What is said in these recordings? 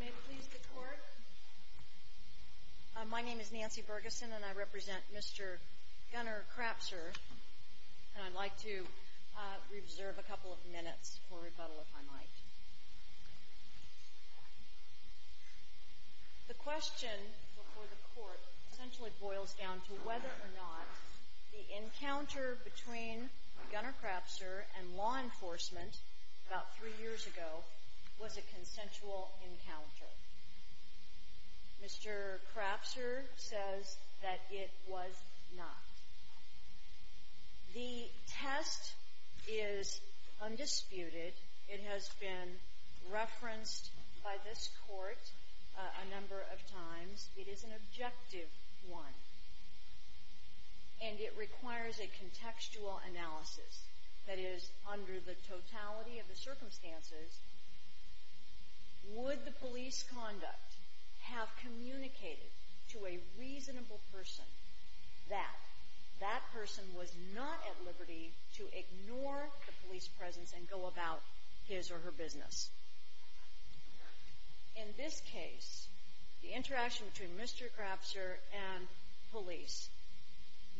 May it please the court, my name is Nancy Bergeson and I represent Mr. Gunnar Crapser and I'd like to reserve a couple of minutes for rebuttal if I might. The question before the court essentially boils down to whether or not the encounter between Gunnar Crapser and law enforcement about three years ago was a consensual encounter. Mr. Crapser says that it was not. The test is undisputed. It has been referenced by this court a number of times. It is an objective one. And it requires a contextual analysis that is under the totality of the circumstances. Would the police conduct have communicated to a reasonable person that that person was not at liberty to ignore the police presence and go about his or her business? In this case, the interaction between Mr. Crapser and police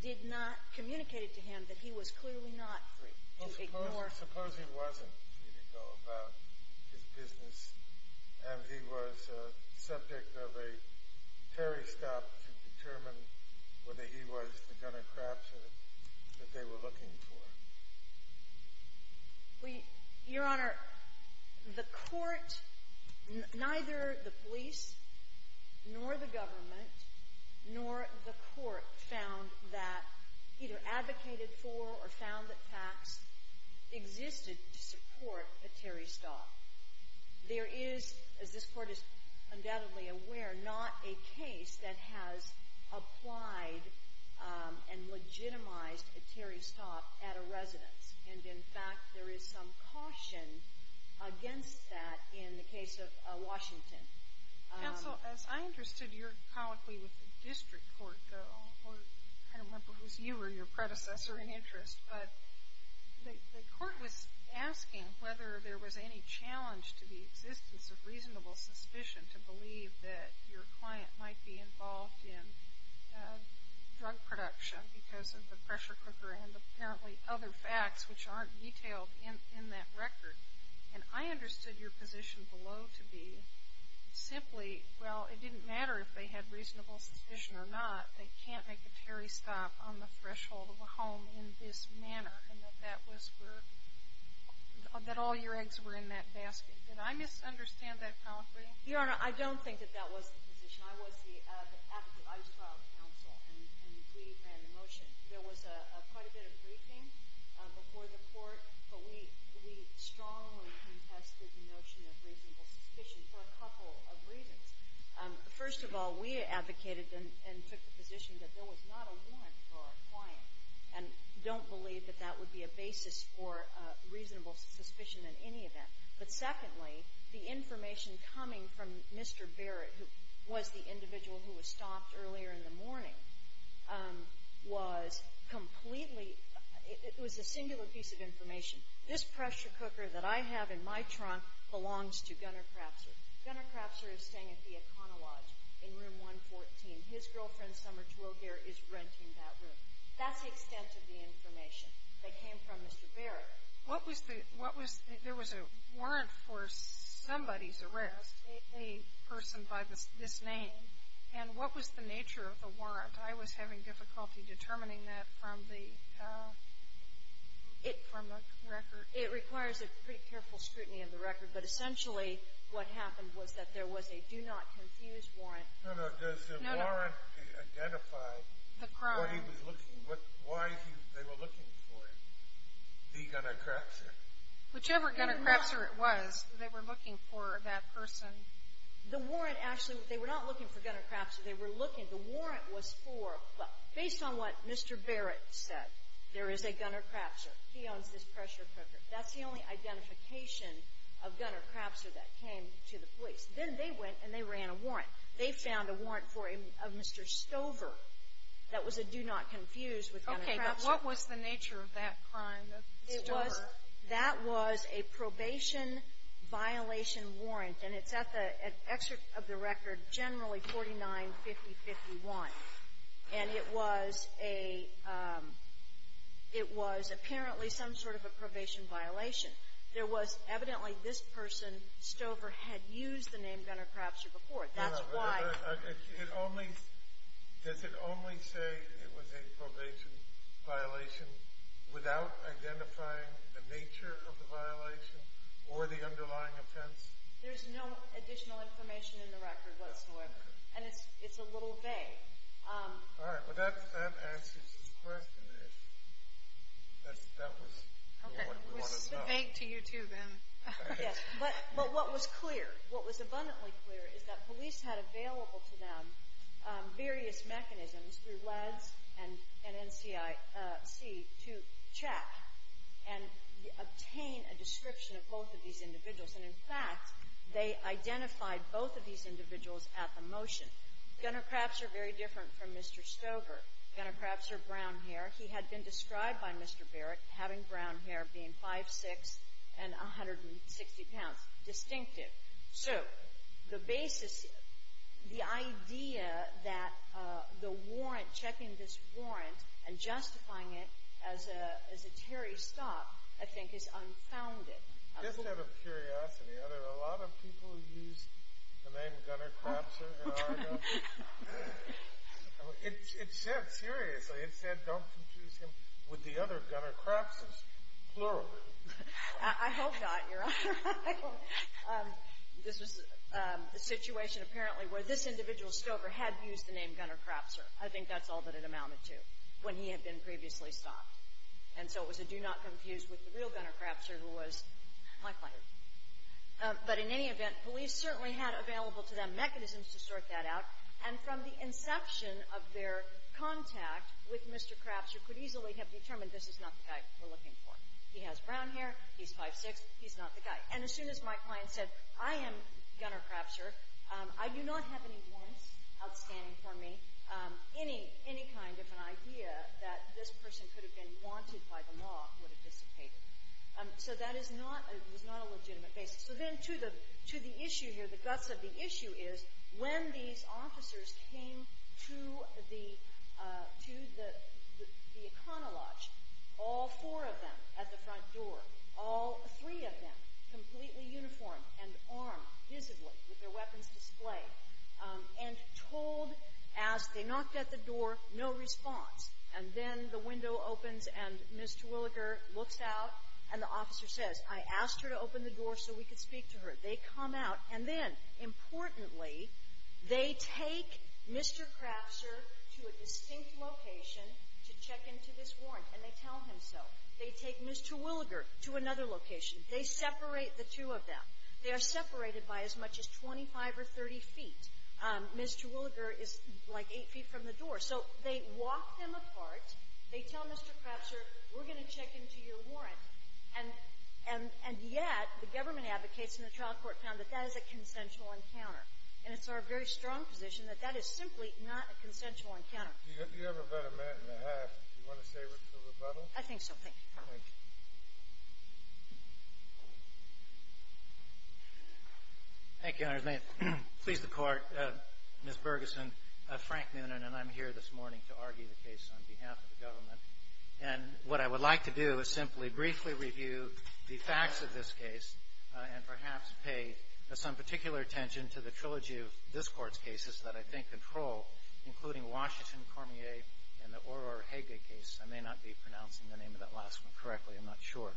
did not communicate to him that he was clearly not at liberty to ignore the police presence. Suppose he wasn't free to go about his business and he was subject of a ferry stop to determine whether he was the Gunnar Crapser that they were looking for. Well, Your Honor, the court, neither the police nor the government nor the court found that either advocated for or found that facts existed to support a ferry stop. There is, as this court is undoubtedly aware, not a case that has applied and legitimized a ferry stop at a residence. And, in fact, there is some caution against that in the case of Washington. Counsel, as I understood your colloquy with the district court, though, I don't remember if it was you or your predecessor in interest, but the court was asking whether there was any challenge to the existence of reasonable suspicion to believe that your client might be involved in drug production because of the pressure cooker and apparently other facts which aren't detailed in that record. And I understood your position below to be simply, well, it didn't matter if they had reasonable suspicion or not, they can't make a ferry stop on the threshold of a home in this manner, and that that was where, that all your eggs were in that basket. Did I misunderstand that colloquy? Your Honor, I don't think that that was the position. I was the advocate. I was trial counsel, and we ran the motion. There was quite a bit of briefing before the court, but we strongly contested the notion of reasonable suspicion for a couple of reasons. First of all, we advocated and took the position that there was not a warrant for our client and don't believe that that would be a basis for reasonable suspicion in any event. But secondly, the information coming from Mr. Barrett, who was the individual who was stopped earlier in the morning, was completely, it was a singular piece of information. This pressure cooker that I have in my trunk belongs to Gunner Crapser. Gunner Crapser is staying at the Econolodge in room 114. His girlfriend, Summer Tuogere, is renting that room. That's the extent of the information that came from Mr. Barrett. What was the, what was, there was a warrant for somebody's arrest, a person by this name, and what was the nature of the warrant? I was having difficulty determining that from the, from the record. It requires a pretty careful scrutiny of the record, but essentially what happened was that there was a do not confuse warrant. No, no, does the warrant identify what he was looking, why they were looking for him? The Gunner Crapser? Whichever Gunner Crapser it was, they were looking for that person. The warrant actually, they were not looking for Gunner Crapser. They were looking, the warrant was for, based on what Mr. Barrett said, there is a Gunner Crapser. He owns this pressure cooker. That's the only identification of Gunner Crapser that came to the police. Then they went and they ran a warrant. They found a warrant for a Mr. Stover that was a do not confuse with Gunner Crapser. Okay, but what was the nature of that crime of Stover? It was, that was a probation violation warrant. And it's at the, at excerpt of the record, generally 49-50-51. And it was a, it was apparently some sort of a probation violation. There was evidently this person, Stover, had used the name Gunner Crapser before. That's why. It only, does it only say it was a probation violation without identifying the nature of the violation or the underlying offense? There's no additional information in the record whatsoever. And it's a little vague. All right, well that answers his question. That was what we wanted to know. It was vague to you too, Ben. Yes, but what was clear, what was abundantly clear is that police had available to them various mechanisms through LADS and NCIC to check and obtain a description of both of these individuals. And, in fact, they identified both of these individuals at the motion. Gunner Crapser, very different from Mr. Stover. Gunner Crapser, brown hair. He had been described by Mr. Barrett, having brown hair, being 5'6 and 160 pounds. Distinctive. So, the basis, the idea that the warrant, checking this warrant and justifying it as a, as a Terry stop, I think is unfounded. Just out of curiosity, are there a lot of people who use the name Gunner Crapser in Argo? It said, seriously, it said don't confuse him with the other Gunner Crapses, plural. I hope not, Your Honor. This was a situation, apparently, where this individual, Stover, had used the name Gunner Crapser. I think that's all that it amounted to when he had been previously stopped. And so it was a do not confuse with the real Gunner Crapser who was my client. But in any event, police certainly had available to them mechanisms to sort that out. And from the inception of their contact with Mr. Crapser could easily have determined this is not the guy we're looking for. He has brown hair. He's 5'6. He's not the guy. And as soon as my client said, I am Gunner Crapser, I do not have any warrants outstanding for me, any kind of an idea that this person could have been wanted by the law would have dissipated. So that is not a legitimate basis. So then to the issue here, the guts of the issue is when these officers came to the econolodge, all four of them at the front door, all three of them completely uniformed and armed, visibly, with their weapons displayed, and told as they knocked at the door, no response. And then the window opens, and Ms. Terwilliger looks out, and the officer says, I asked her to open the door so we could speak to her. They come out. And then, importantly, they take Mr. Crapser to a distinct location to check into this warrant. And they tell him so. They take Ms. Terwilliger to another location. They separate the two of them. They are separated by as much as 25 or 30 feet. Ms. Terwilliger is like 8 feet from the door. So they walk them apart. They tell Mr. Crapser, we're going to check into your warrant. And yet the government advocates and the trial court found that that is a consensual encounter. And it's our very strong position that that is simply not a consensual encounter. Do you have about a minute and a half? Do you want to save it for rebuttal? Thank you. Thank you. Thank you, Your Honor. May it please the Court, Ms. Bergeson, Frank Noonan and I'm here this morning to argue the case on behalf of the government. And what I would like to do is simply briefly review the facts of this case and perhaps pay some particular attention to the trilogy of this Court's cases that I think control, including Washington, Cormier, and the Ororo-Hage case. I may not be pronouncing the name of that last one correctly. I'm not sure.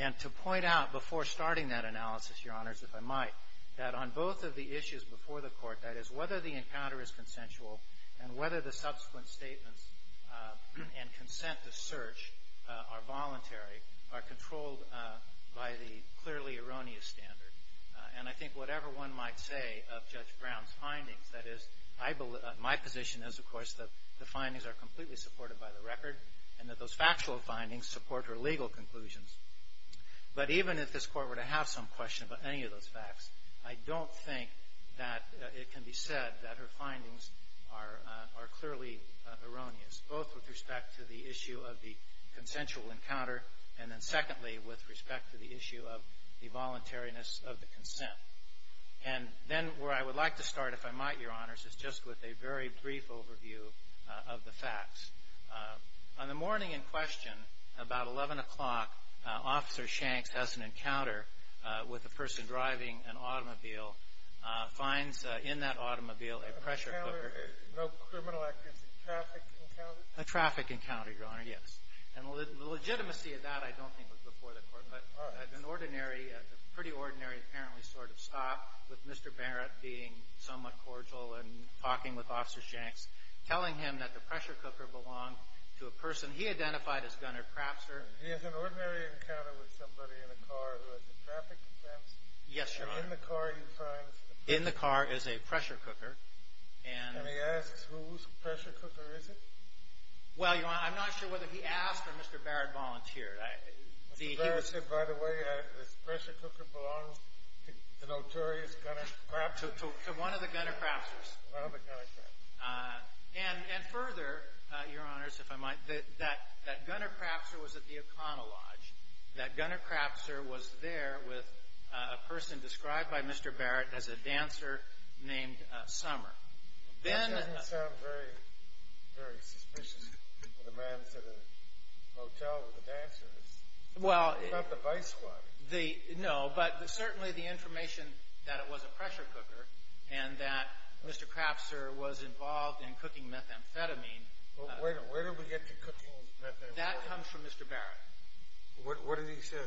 And to point out before starting that analysis, Your Honors, if I might, that on both of the issues before the Court, that is, whether the encounter is consensual and whether the subsequent statements and consent to search are voluntary are controlled by the clearly erroneous standard. And I think whatever one might say of Judge Brown's findings, that is, my position is, of course, that the findings are completely supported by the conclusions. But even if this Court were to have some question about any of those facts, I don't think that it can be said that her findings are clearly erroneous, both with respect to the issue of the consensual encounter and then secondly with respect to the issue of the voluntariness of the consent. And then where I would like to start, if I might, Your Honors, is just with a very brief overview of the facts. On the morning in question, about 11 o'clock, Officer Shanks has an encounter with a person driving an automobile, finds in that automobile a pressure cooker. A counter, no criminal activity, traffic encounter? A traffic encounter, Your Honor, yes. And the legitimacy of that I don't think was before the Court. But an ordinary, a pretty ordinary apparently sort of stop, with Mr. Barrett being somewhat cordial and talking with Officer Shanks, telling him that the pressure cooker belonged to a person he identified as Gunner Crapser. He has an ordinary encounter with somebody in a car who has a traffic offense? Yes, Your Honor. And in the car he finds the person? In the car is a pressure cooker. And he asks whose pressure cooker is it? Well, Your Honor, I'm not sure whether he asked or Mr. Barrett volunteered. Mr. Barrett said, by the way, this pressure cooker belongs to the notorious Gunner Crapser? To one of the Gunner Crapsers. One of the Gunner Crapsers. And further, Your Honors, if I might, that Gunner Crapser was at the O'Connell Lodge. That Gunner Crapser was there with a person described by Mr. Barrett as a dancer named Summer. That doesn't sound very suspicious. The man's at a motel with a dancer. It's not the vice squad. No, but certainly the information that it was a pressure cooker and that Mr. Crapser was involved in cooking methamphetamine. Wait a minute. Where did we get the cooking methamphetamine? That comes from Mr. Barrett. What did he say?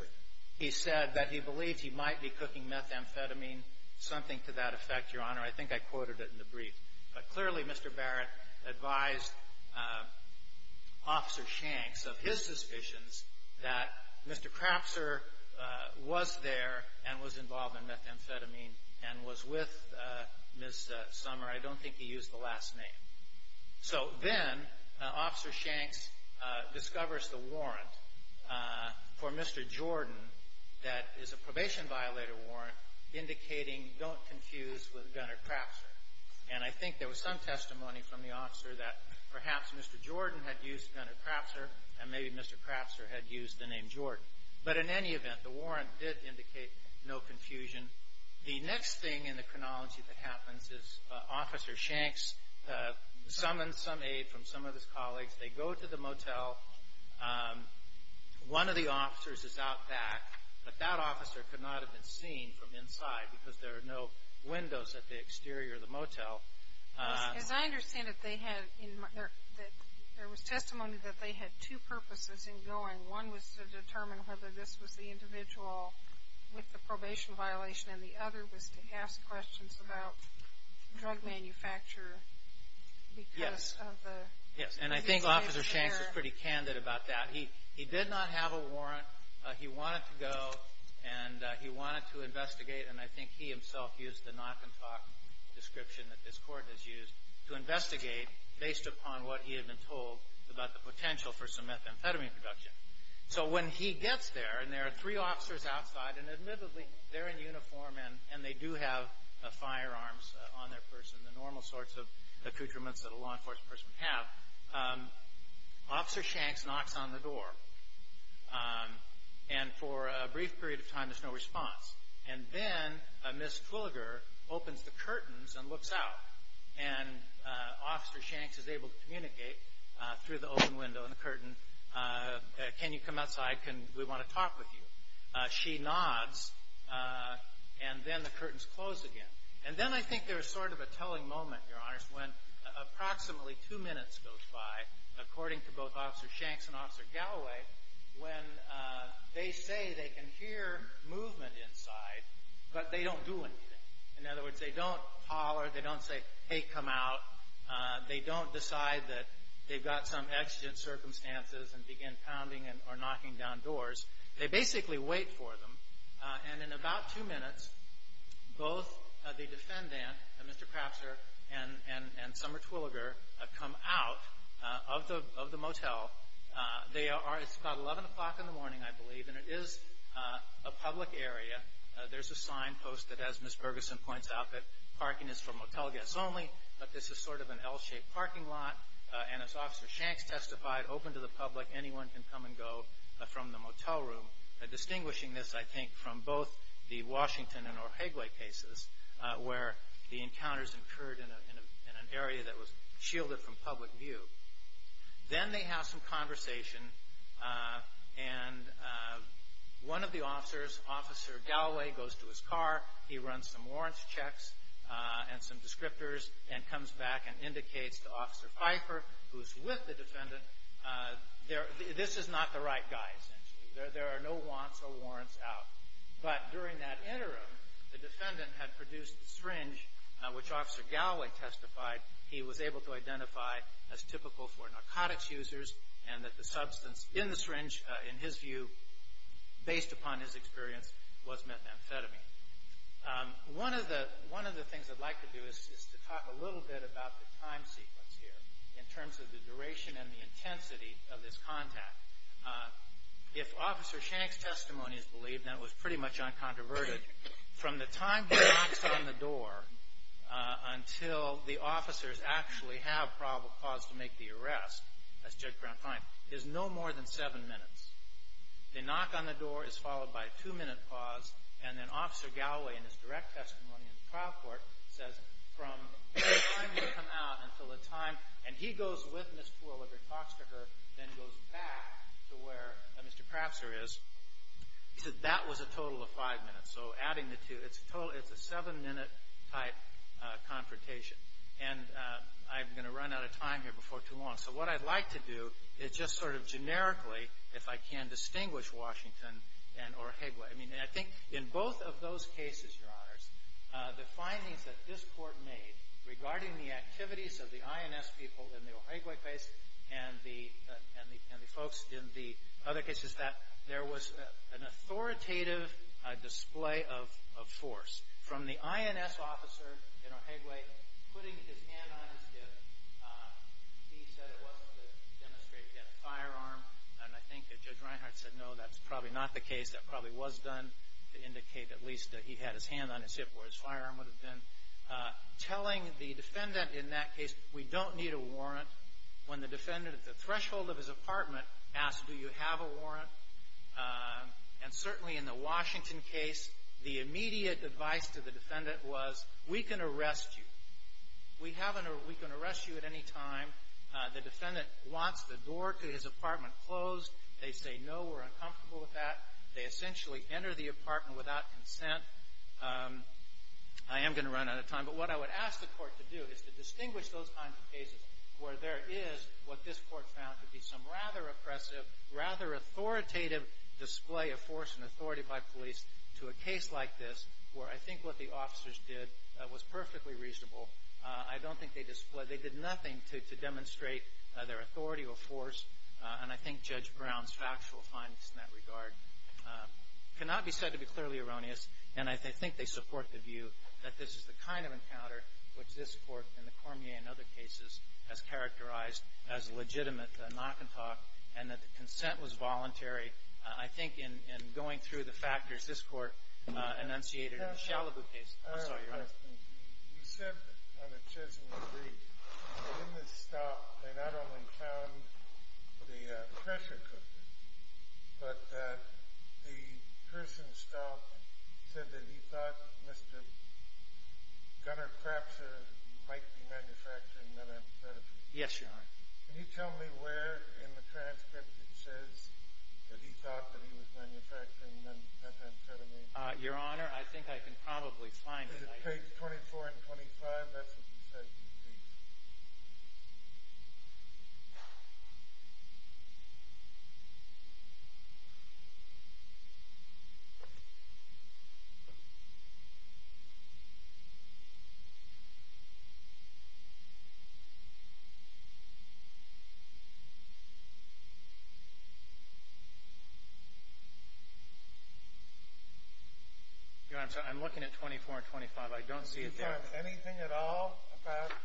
He said that he believed he might be cooking methamphetamine, something to that effect, Your Honor. I think I quoted it in the brief. But clearly Mr. Barrett advised Officer Shanks of his suspicions that Mr. Crapser was there and was involved in methamphetamine and was with Ms. Summer. I don't think he used the last name. So then Officer Shanks discovers the warrant for Mr. Jordan that is a probation violator warrant indicating don't confuse with Gunner Crapser. And I think there was some testimony from the officer that perhaps Mr. Jordan had used Gunner Crapser and maybe Mr. Crapser had used the name Jordan. But in any event, the warrant did indicate no confusion. The next thing in the chronology that happens is Officer Shanks summons some aid from some of his colleagues. They go to the motel. One of the officers is out back, but that officer could not have been seen from inside As I understand it, there was testimony that they had two purposes in going. One was to determine whether this was the individual with the probation violation and the other was to ask questions about drug manufacture because of the Yes, and I think Officer Shanks was pretty candid about that. He did not have a warrant. He wanted to go and he wanted to investigate, and I think he himself used the knock and talk description that this Court has used, to investigate based upon what he had been told about the potential for some methamphetamine production. So when he gets there, and there are three officers outside, and admittedly they're in uniform and they do have firearms on their person, the normal sorts of accoutrements that a law enforcement person would have, Officer Shanks knocks on the door. And for a brief period of time there's no response. And then Ms. Twilliger opens the curtains and looks out. And Officer Shanks is able to communicate through the open window in the curtain. Can you come outside? We want to talk with you. She nods, and then the curtains close again. And then I think there's sort of a telling moment, Your Honors, when approximately two minutes goes by, according to both Officer Shanks and Officer Galloway, when they say they can hear movement inside, but they don't do anything. In other words, they don't holler. They don't say, Hey, come out. They don't decide that they've got some exigent circumstances and begin pounding or knocking down doors. They basically wait for them. And in about two minutes, both the defendant, Mr. Crafter, and Summer Twilliger, come out of the motel. It's about 11 o'clock in the morning, I believe, and it is a public area. There's a sign posted, as Ms. Bergeson points out, that parking is for motel guests only. But this is sort of an L-shaped parking lot. And as Officer Shanks testified, open to the public. Anyone can come and go from the motel room. Distinguishing this, I think, from both the Washington and Ojigwe cases, where the encounters occurred in an area that was shielded from public view. Then they have some conversation, and one of the officers, Officer Galloway, goes to his car. He runs some warrants checks and some descriptors and comes back and indicates to Officer Pfeiffer, who is with the defendant, this is not the right guy, essentially. There are no wants or warrants out. But during that interim, the defendant had produced the syringe, which Officer Galloway testified he was able to identify as typical for narcotics users, and that the substance in the syringe, in his view, based upon his experience, was methamphetamine. One of the things I'd like to do is to talk a little bit about the time sequence here, in terms of the duration and the intensity of this contact. If Officer Shanks' testimony is believed, then it was pretty much uncontroverted. From the time he knocks on the door until the officers actually have probable cause to make the arrest, as Judge Brown finds, there's no more than seven minutes. The knock on the door is followed by a two-minute pause, and then Officer Galloway, in his direct testimony in the trial court, says, from the time you come out until the time, and he goes with Ms. Twilliger and talks to her, then goes back to where Mr. Crapser is. He said that was a total of five minutes. So adding the two, it's a total, it's a seven-minute-type confrontation. And I'm going to run out of time here before too long. So what I'd like to do is just sort of generically, if I can, distinguish Washington and Ojigwe. I mean, I think in both of those cases, Your Honors, the findings that this Court made regarding the activities of the INS people in the Ojigwe base and the folks in the other cases, that there was an authoritative display of force. From the INS officer in Ojigwe, putting his hand on his hip, he said it wasn't to demonstrate he had a firearm. And I think that Judge Reinhart said, no, that's probably not the case. That probably was done to indicate at least that he had his hand on his hip where his firearm would have been. Telling the defendant in that case, we don't need a warrant, when the defendant at the threshold of his apartment asked, do you have a warrant? And certainly in the Washington case, the immediate advice to the defendant was, we can arrest you. We can arrest you at any time. The defendant wants the door to his apartment closed. They say, no, we're uncomfortable with that. They essentially enter the apartment without consent. I am going to run out of time, but what I would ask the Court to do is to distinguish those kinds of cases where there is what this Court found to be some rather oppressive, rather authoritative display of force and authority by police to a case like this, where I think what the officers did was perfectly reasonable. I don't think they did nothing to demonstrate their authority or force, and I think Judge Brown's factual findings in that regard cannot be said to be clearly erroneous. And I think they support the view that this is the kind of encounter which this Court and the Cormier and other cases has characterized as legitimate knock-and-talk and that the consent was voluntary, I think, in going through the factors this Court enunciated in the Chalabu case. I'm sorry, Your Honor. Your Honor, I think I can probably find it. Page 24 and 25, that's what you said you think. Your Honor, I'm looking at 24 and 25. I don't see it there. Have you found anything at all about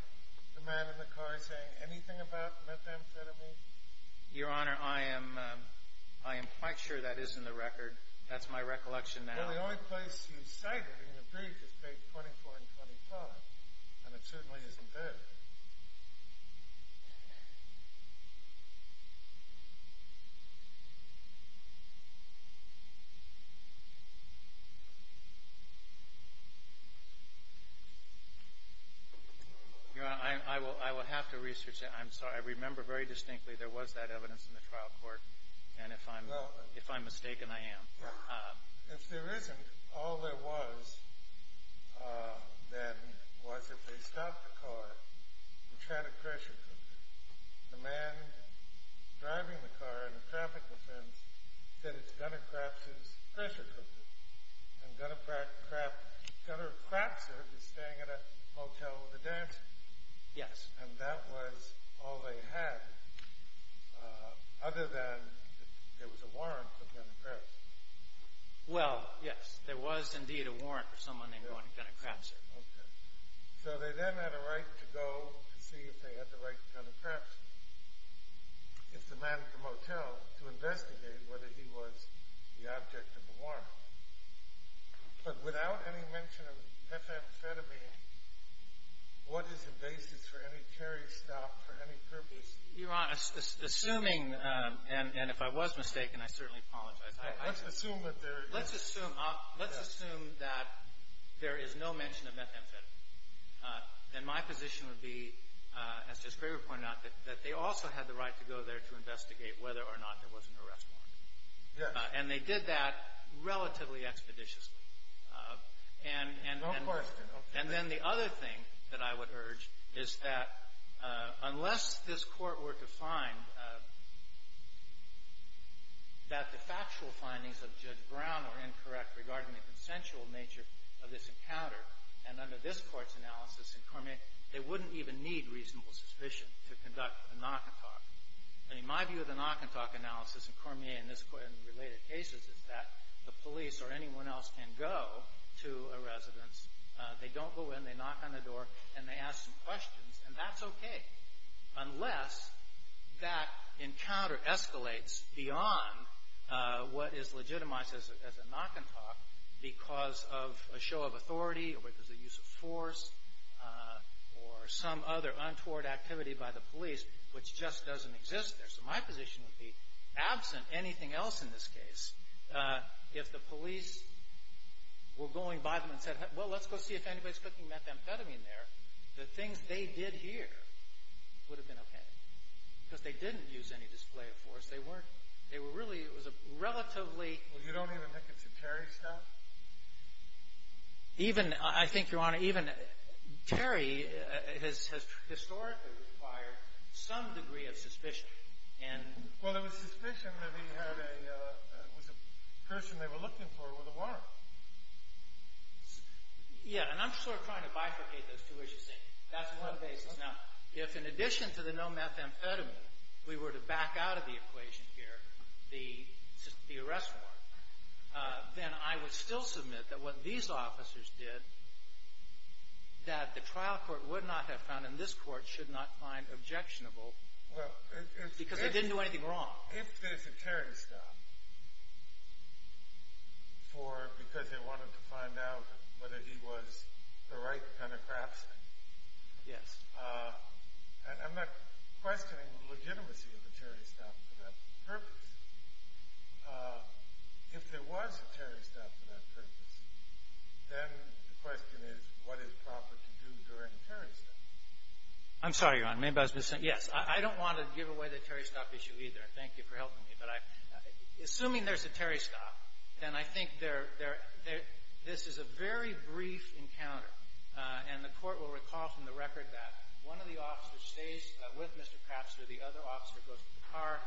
the man in the car saying anything about methamphetamine? Your Honor, I am quite sure that is in the record. That's my recollection now. Your Honor, I will have to research it. I'm sorry. I remember very distinctly there was that evidence in the trial court, and if I'm mistaken, I am. If there isn't, all there was then was if they stopped the car, which had a pressure cooker. The man driving the car in the traffic defense said, it's Gunner Crapser's pressure cooker, and Gunner Crapser is staying at a hotel with a dancer. Yes. And that was all they had other than there was a warrant for Gunner Crapser. Well, yes, there was indeed a warrant for someone named Gunner Crapser. Okay. So they then had a right to go to see if they had the right to Gunner Crapser, if the man at the motel, to investigate whether he was the object of the warrant. But without any mention of methamphetamine, what is the basis for any carry stop for any purpose? Your Honor, assuming, and if I was mistaken, I certainly apologize. Let's assume that there is. Let's assume that there is no mention of methamphetamine. Then my position would be, as Judge Craver pointed out, that they also had the right to go there to investigate whether or not there was an arrest warrant. Yes. And they did that relatively expeditiously. No question. And then the other thing that I would urge is that unless this Court were to find that the factual findings of Judge Brown were incorrect regarding the consensual nature of this encounter, and under this Court's analysis in Cormier, they wouldn't even need reasonable suspicion to conduct a knock-and-talk. I mean, my view of the knock-and-talk analysis in Cormier and this Court in related cases is that the police or anyone else can go to a residence. They don't go in. They knock on the door, and they ask some questions. And that's okay unless that encounter escalates beyond what is legitimized as a knock-and-talk because of a show of authority or because of use of force or some other untoward activity by the police which just doesn't exist there. So my position would be, absent anything else in this case, if the police were going by them and said, well, let's go see if anybody's putting methamphetamine there, the things they did here would have been okay because they didn't use any display of force. They weren't. They were really – it was a relatively – Well, you don't even think it's a Terry stuff? Even – I think, Your Honor, even Terry has historically required some degree of suspicion. Well, there was suspicion that he had a – it was a person they were looking for with a warrant. Yeah, and I'm sort of trying to bifurcate those two issues. That's one basis. Now, if in addition to the no methamphetamine, we were to back out of the equation here, the arrest warrant, then I would still submit that what these officers did, that the trial court would not have found and this court should not find objectionable because they didn't do anything wrong. If there's a Terry stuff for – because they wanted to find out whether he was the right kind of craftsman. Yes. I'm not questioning the legitimacy of the Terry stuff for that purpose. If there was a Terry stuff for that purpose, then the question is what is proper to do during Terry stuff? I'm sorry, Your Honor. Maybe I was missing – yes. I don't want to give away the Terry stuff issue either. Thank you for helping me. But I – assuming there's a Terry stuff, then I think there – this is a very brief encounter, and the court will recall from the record that one of the officers stays with Mr. Craftsman. The other officer goes to the car.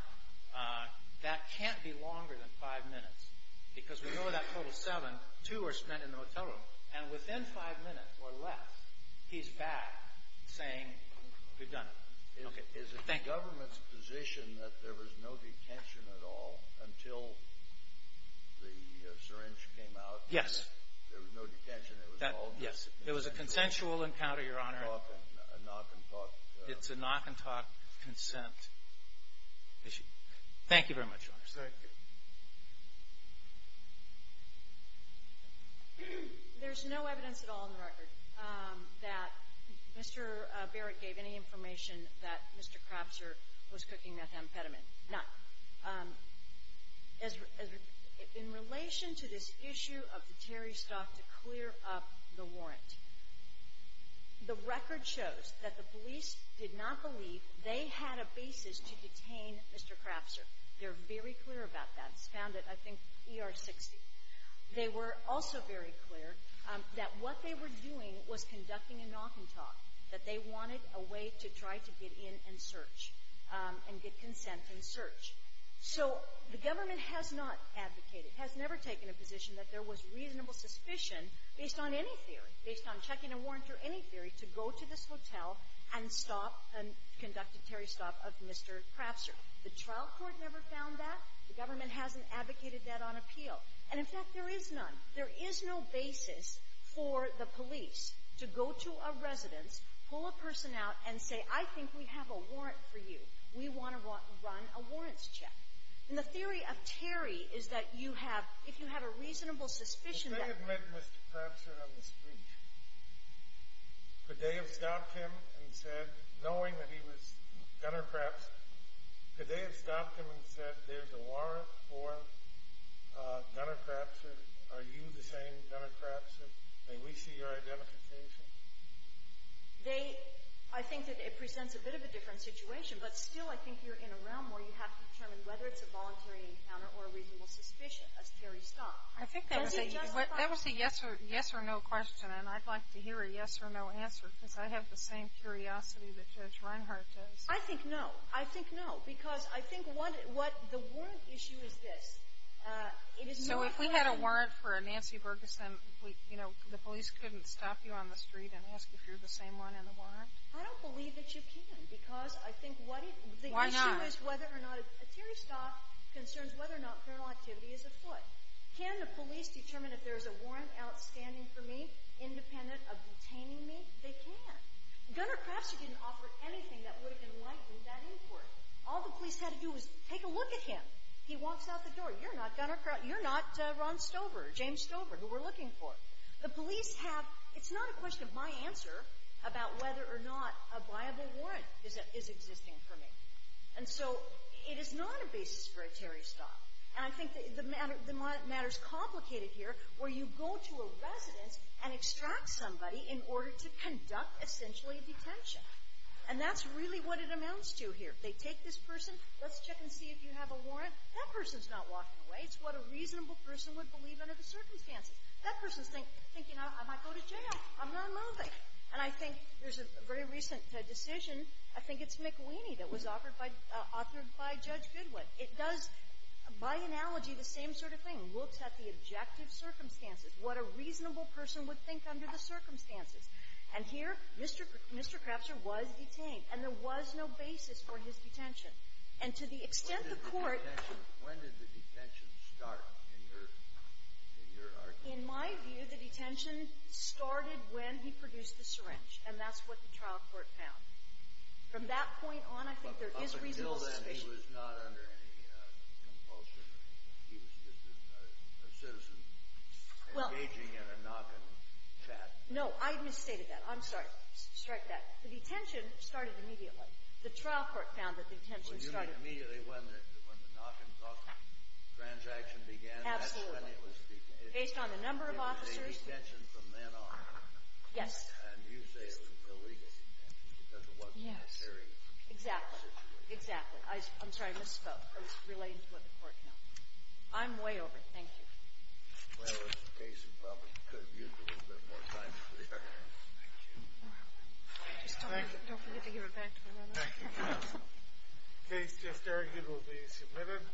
That can't be longer than five minutes because we know that total seven, two were spent in the motel room, and within five minutes or less, he's back saying, we've done it. Is it the government's position that there was no detention at all until the syringe came out? Yes. There was no detention. Yes. It was a consensual encounter, Your Honor. A knock and talk. It's a knock and talk consent issue. Thank you very much, Your Honor. Thank you. There's no evidence at all in the record that Mr. Barrett gave any information that Mr. Craftsman was cooking that amphetamine. Now, in relation to this issue of the Terry stuff to clear up the warrant, the record shows that the police did not believe they had a basis to detain Mr. Craftsman. They're very clear about that. It's found at, I think, ER 60. They were also very clear that what they were doing was conducting a knock and talk, that they wanted a way to try to get in and search and get consent and search. So the government has not advocated, has never taken a position that there was reasonable suspicion, based on any theory, based on checking a warrant or any theory, to go to this hotel and stop and conduct a Terry stop of Mr. Craftsman. The trial court never found that. The government hasn't advocated that on appeal. And, in fact, there is none. There is no basis for the police to go to a residence, pull a person out, and say, I think we have a warrant for you. We want to run a warrants check. And the theory of Terry is that you have, if you have a reasonable suspicion that If they had met Mr. Craftsman on the street, could they have stopped him and said, knowing that he was Gunner Craftsman, could they have stopped him and said, there's a warrant for Gunner Craftsman, are you the same Gunner Craftsman? May we see your identification? They, I think that it presents a bit of a different situation, but still I think you're in a realm where you have to determine whether it's a voluntary encounter or a reasonable suspicion, as Terry stopped. I think that was a yes or no question, and I'd like to hear a yes or no answer, because I have the same curiosity that Judge Reinhart does. I think no. I think no, because I think what the warrant issue is this. So if we had a warrant for a Nancy Bergeson, you know, the police couldn't stop you on the street and ask if you're the same one in the warrant? I don't believe that you can, because I think the issue is whether or not a Terry stop concerns whether or not criminal activity is afoot. Can the police determine if there's a warrant outstanding for me, independent of detaining me? They can. Gunner Craftster didn't offer anything that would have enlightened that inquiry. All the police had to do was take a look at him. He walks out the door. You're not Gunner Craftster. You're not Ron Stover, James Stover, who we're looking for. The police have, it's not a question of my answer about whether or not a viable warrant is existing for me. And so it is not a basis for a Terry stop, and I think the matter's complicated here where you go to a residence and extract somebody in order to conduct essentially detention. And that's really what it amounts to here. They take this person. Let's check and see if you have a warrant. That person's not walking away. It's what a reasonable person would believe under the circumstances. That person's thinking, you know, I might go to jail. I'm not moving. And I think there's a very recent decision. I think it's McWheeney that was offered by Judge Goodwin. It does, by analogy, the same sort of thing, looks at the objective circumstances, what a reasonable person would think under the circumstances. And here, Mr. Craftster was detained. And there was no basis for his detention. And to the extent the Court ---- Kennedy. When did the detention start, in your argument? In my view, the detention started when he produced the syringe, and that's what the trial court found. From that point on, I think there is reasonable suspicion. But until then, he was not under any compulsion. He was just a citizen engaging in a knock-and-chat. No. I misstated that. I'm sorry. Strike that. The detention started immediately. The trial court found that the detention started ---- Well, you mean immediately when the knock-and-talk transaction began? Absolutely. That's when it was ---- Based on the number of officers. It was a detention from then on. Yes. And you say it was illegal detention because it wasn't a serious situation. Yes. Exactly. Exactly. I'm sorry. I misspoke. I was relating to what the Court found. I'm way over. Thank you. Well, if the case is public, you could have used a little bit more time to clear that up. Thank you. Thank you. Don't forget to give it back to me. Thank you. The case just argued will be submitted.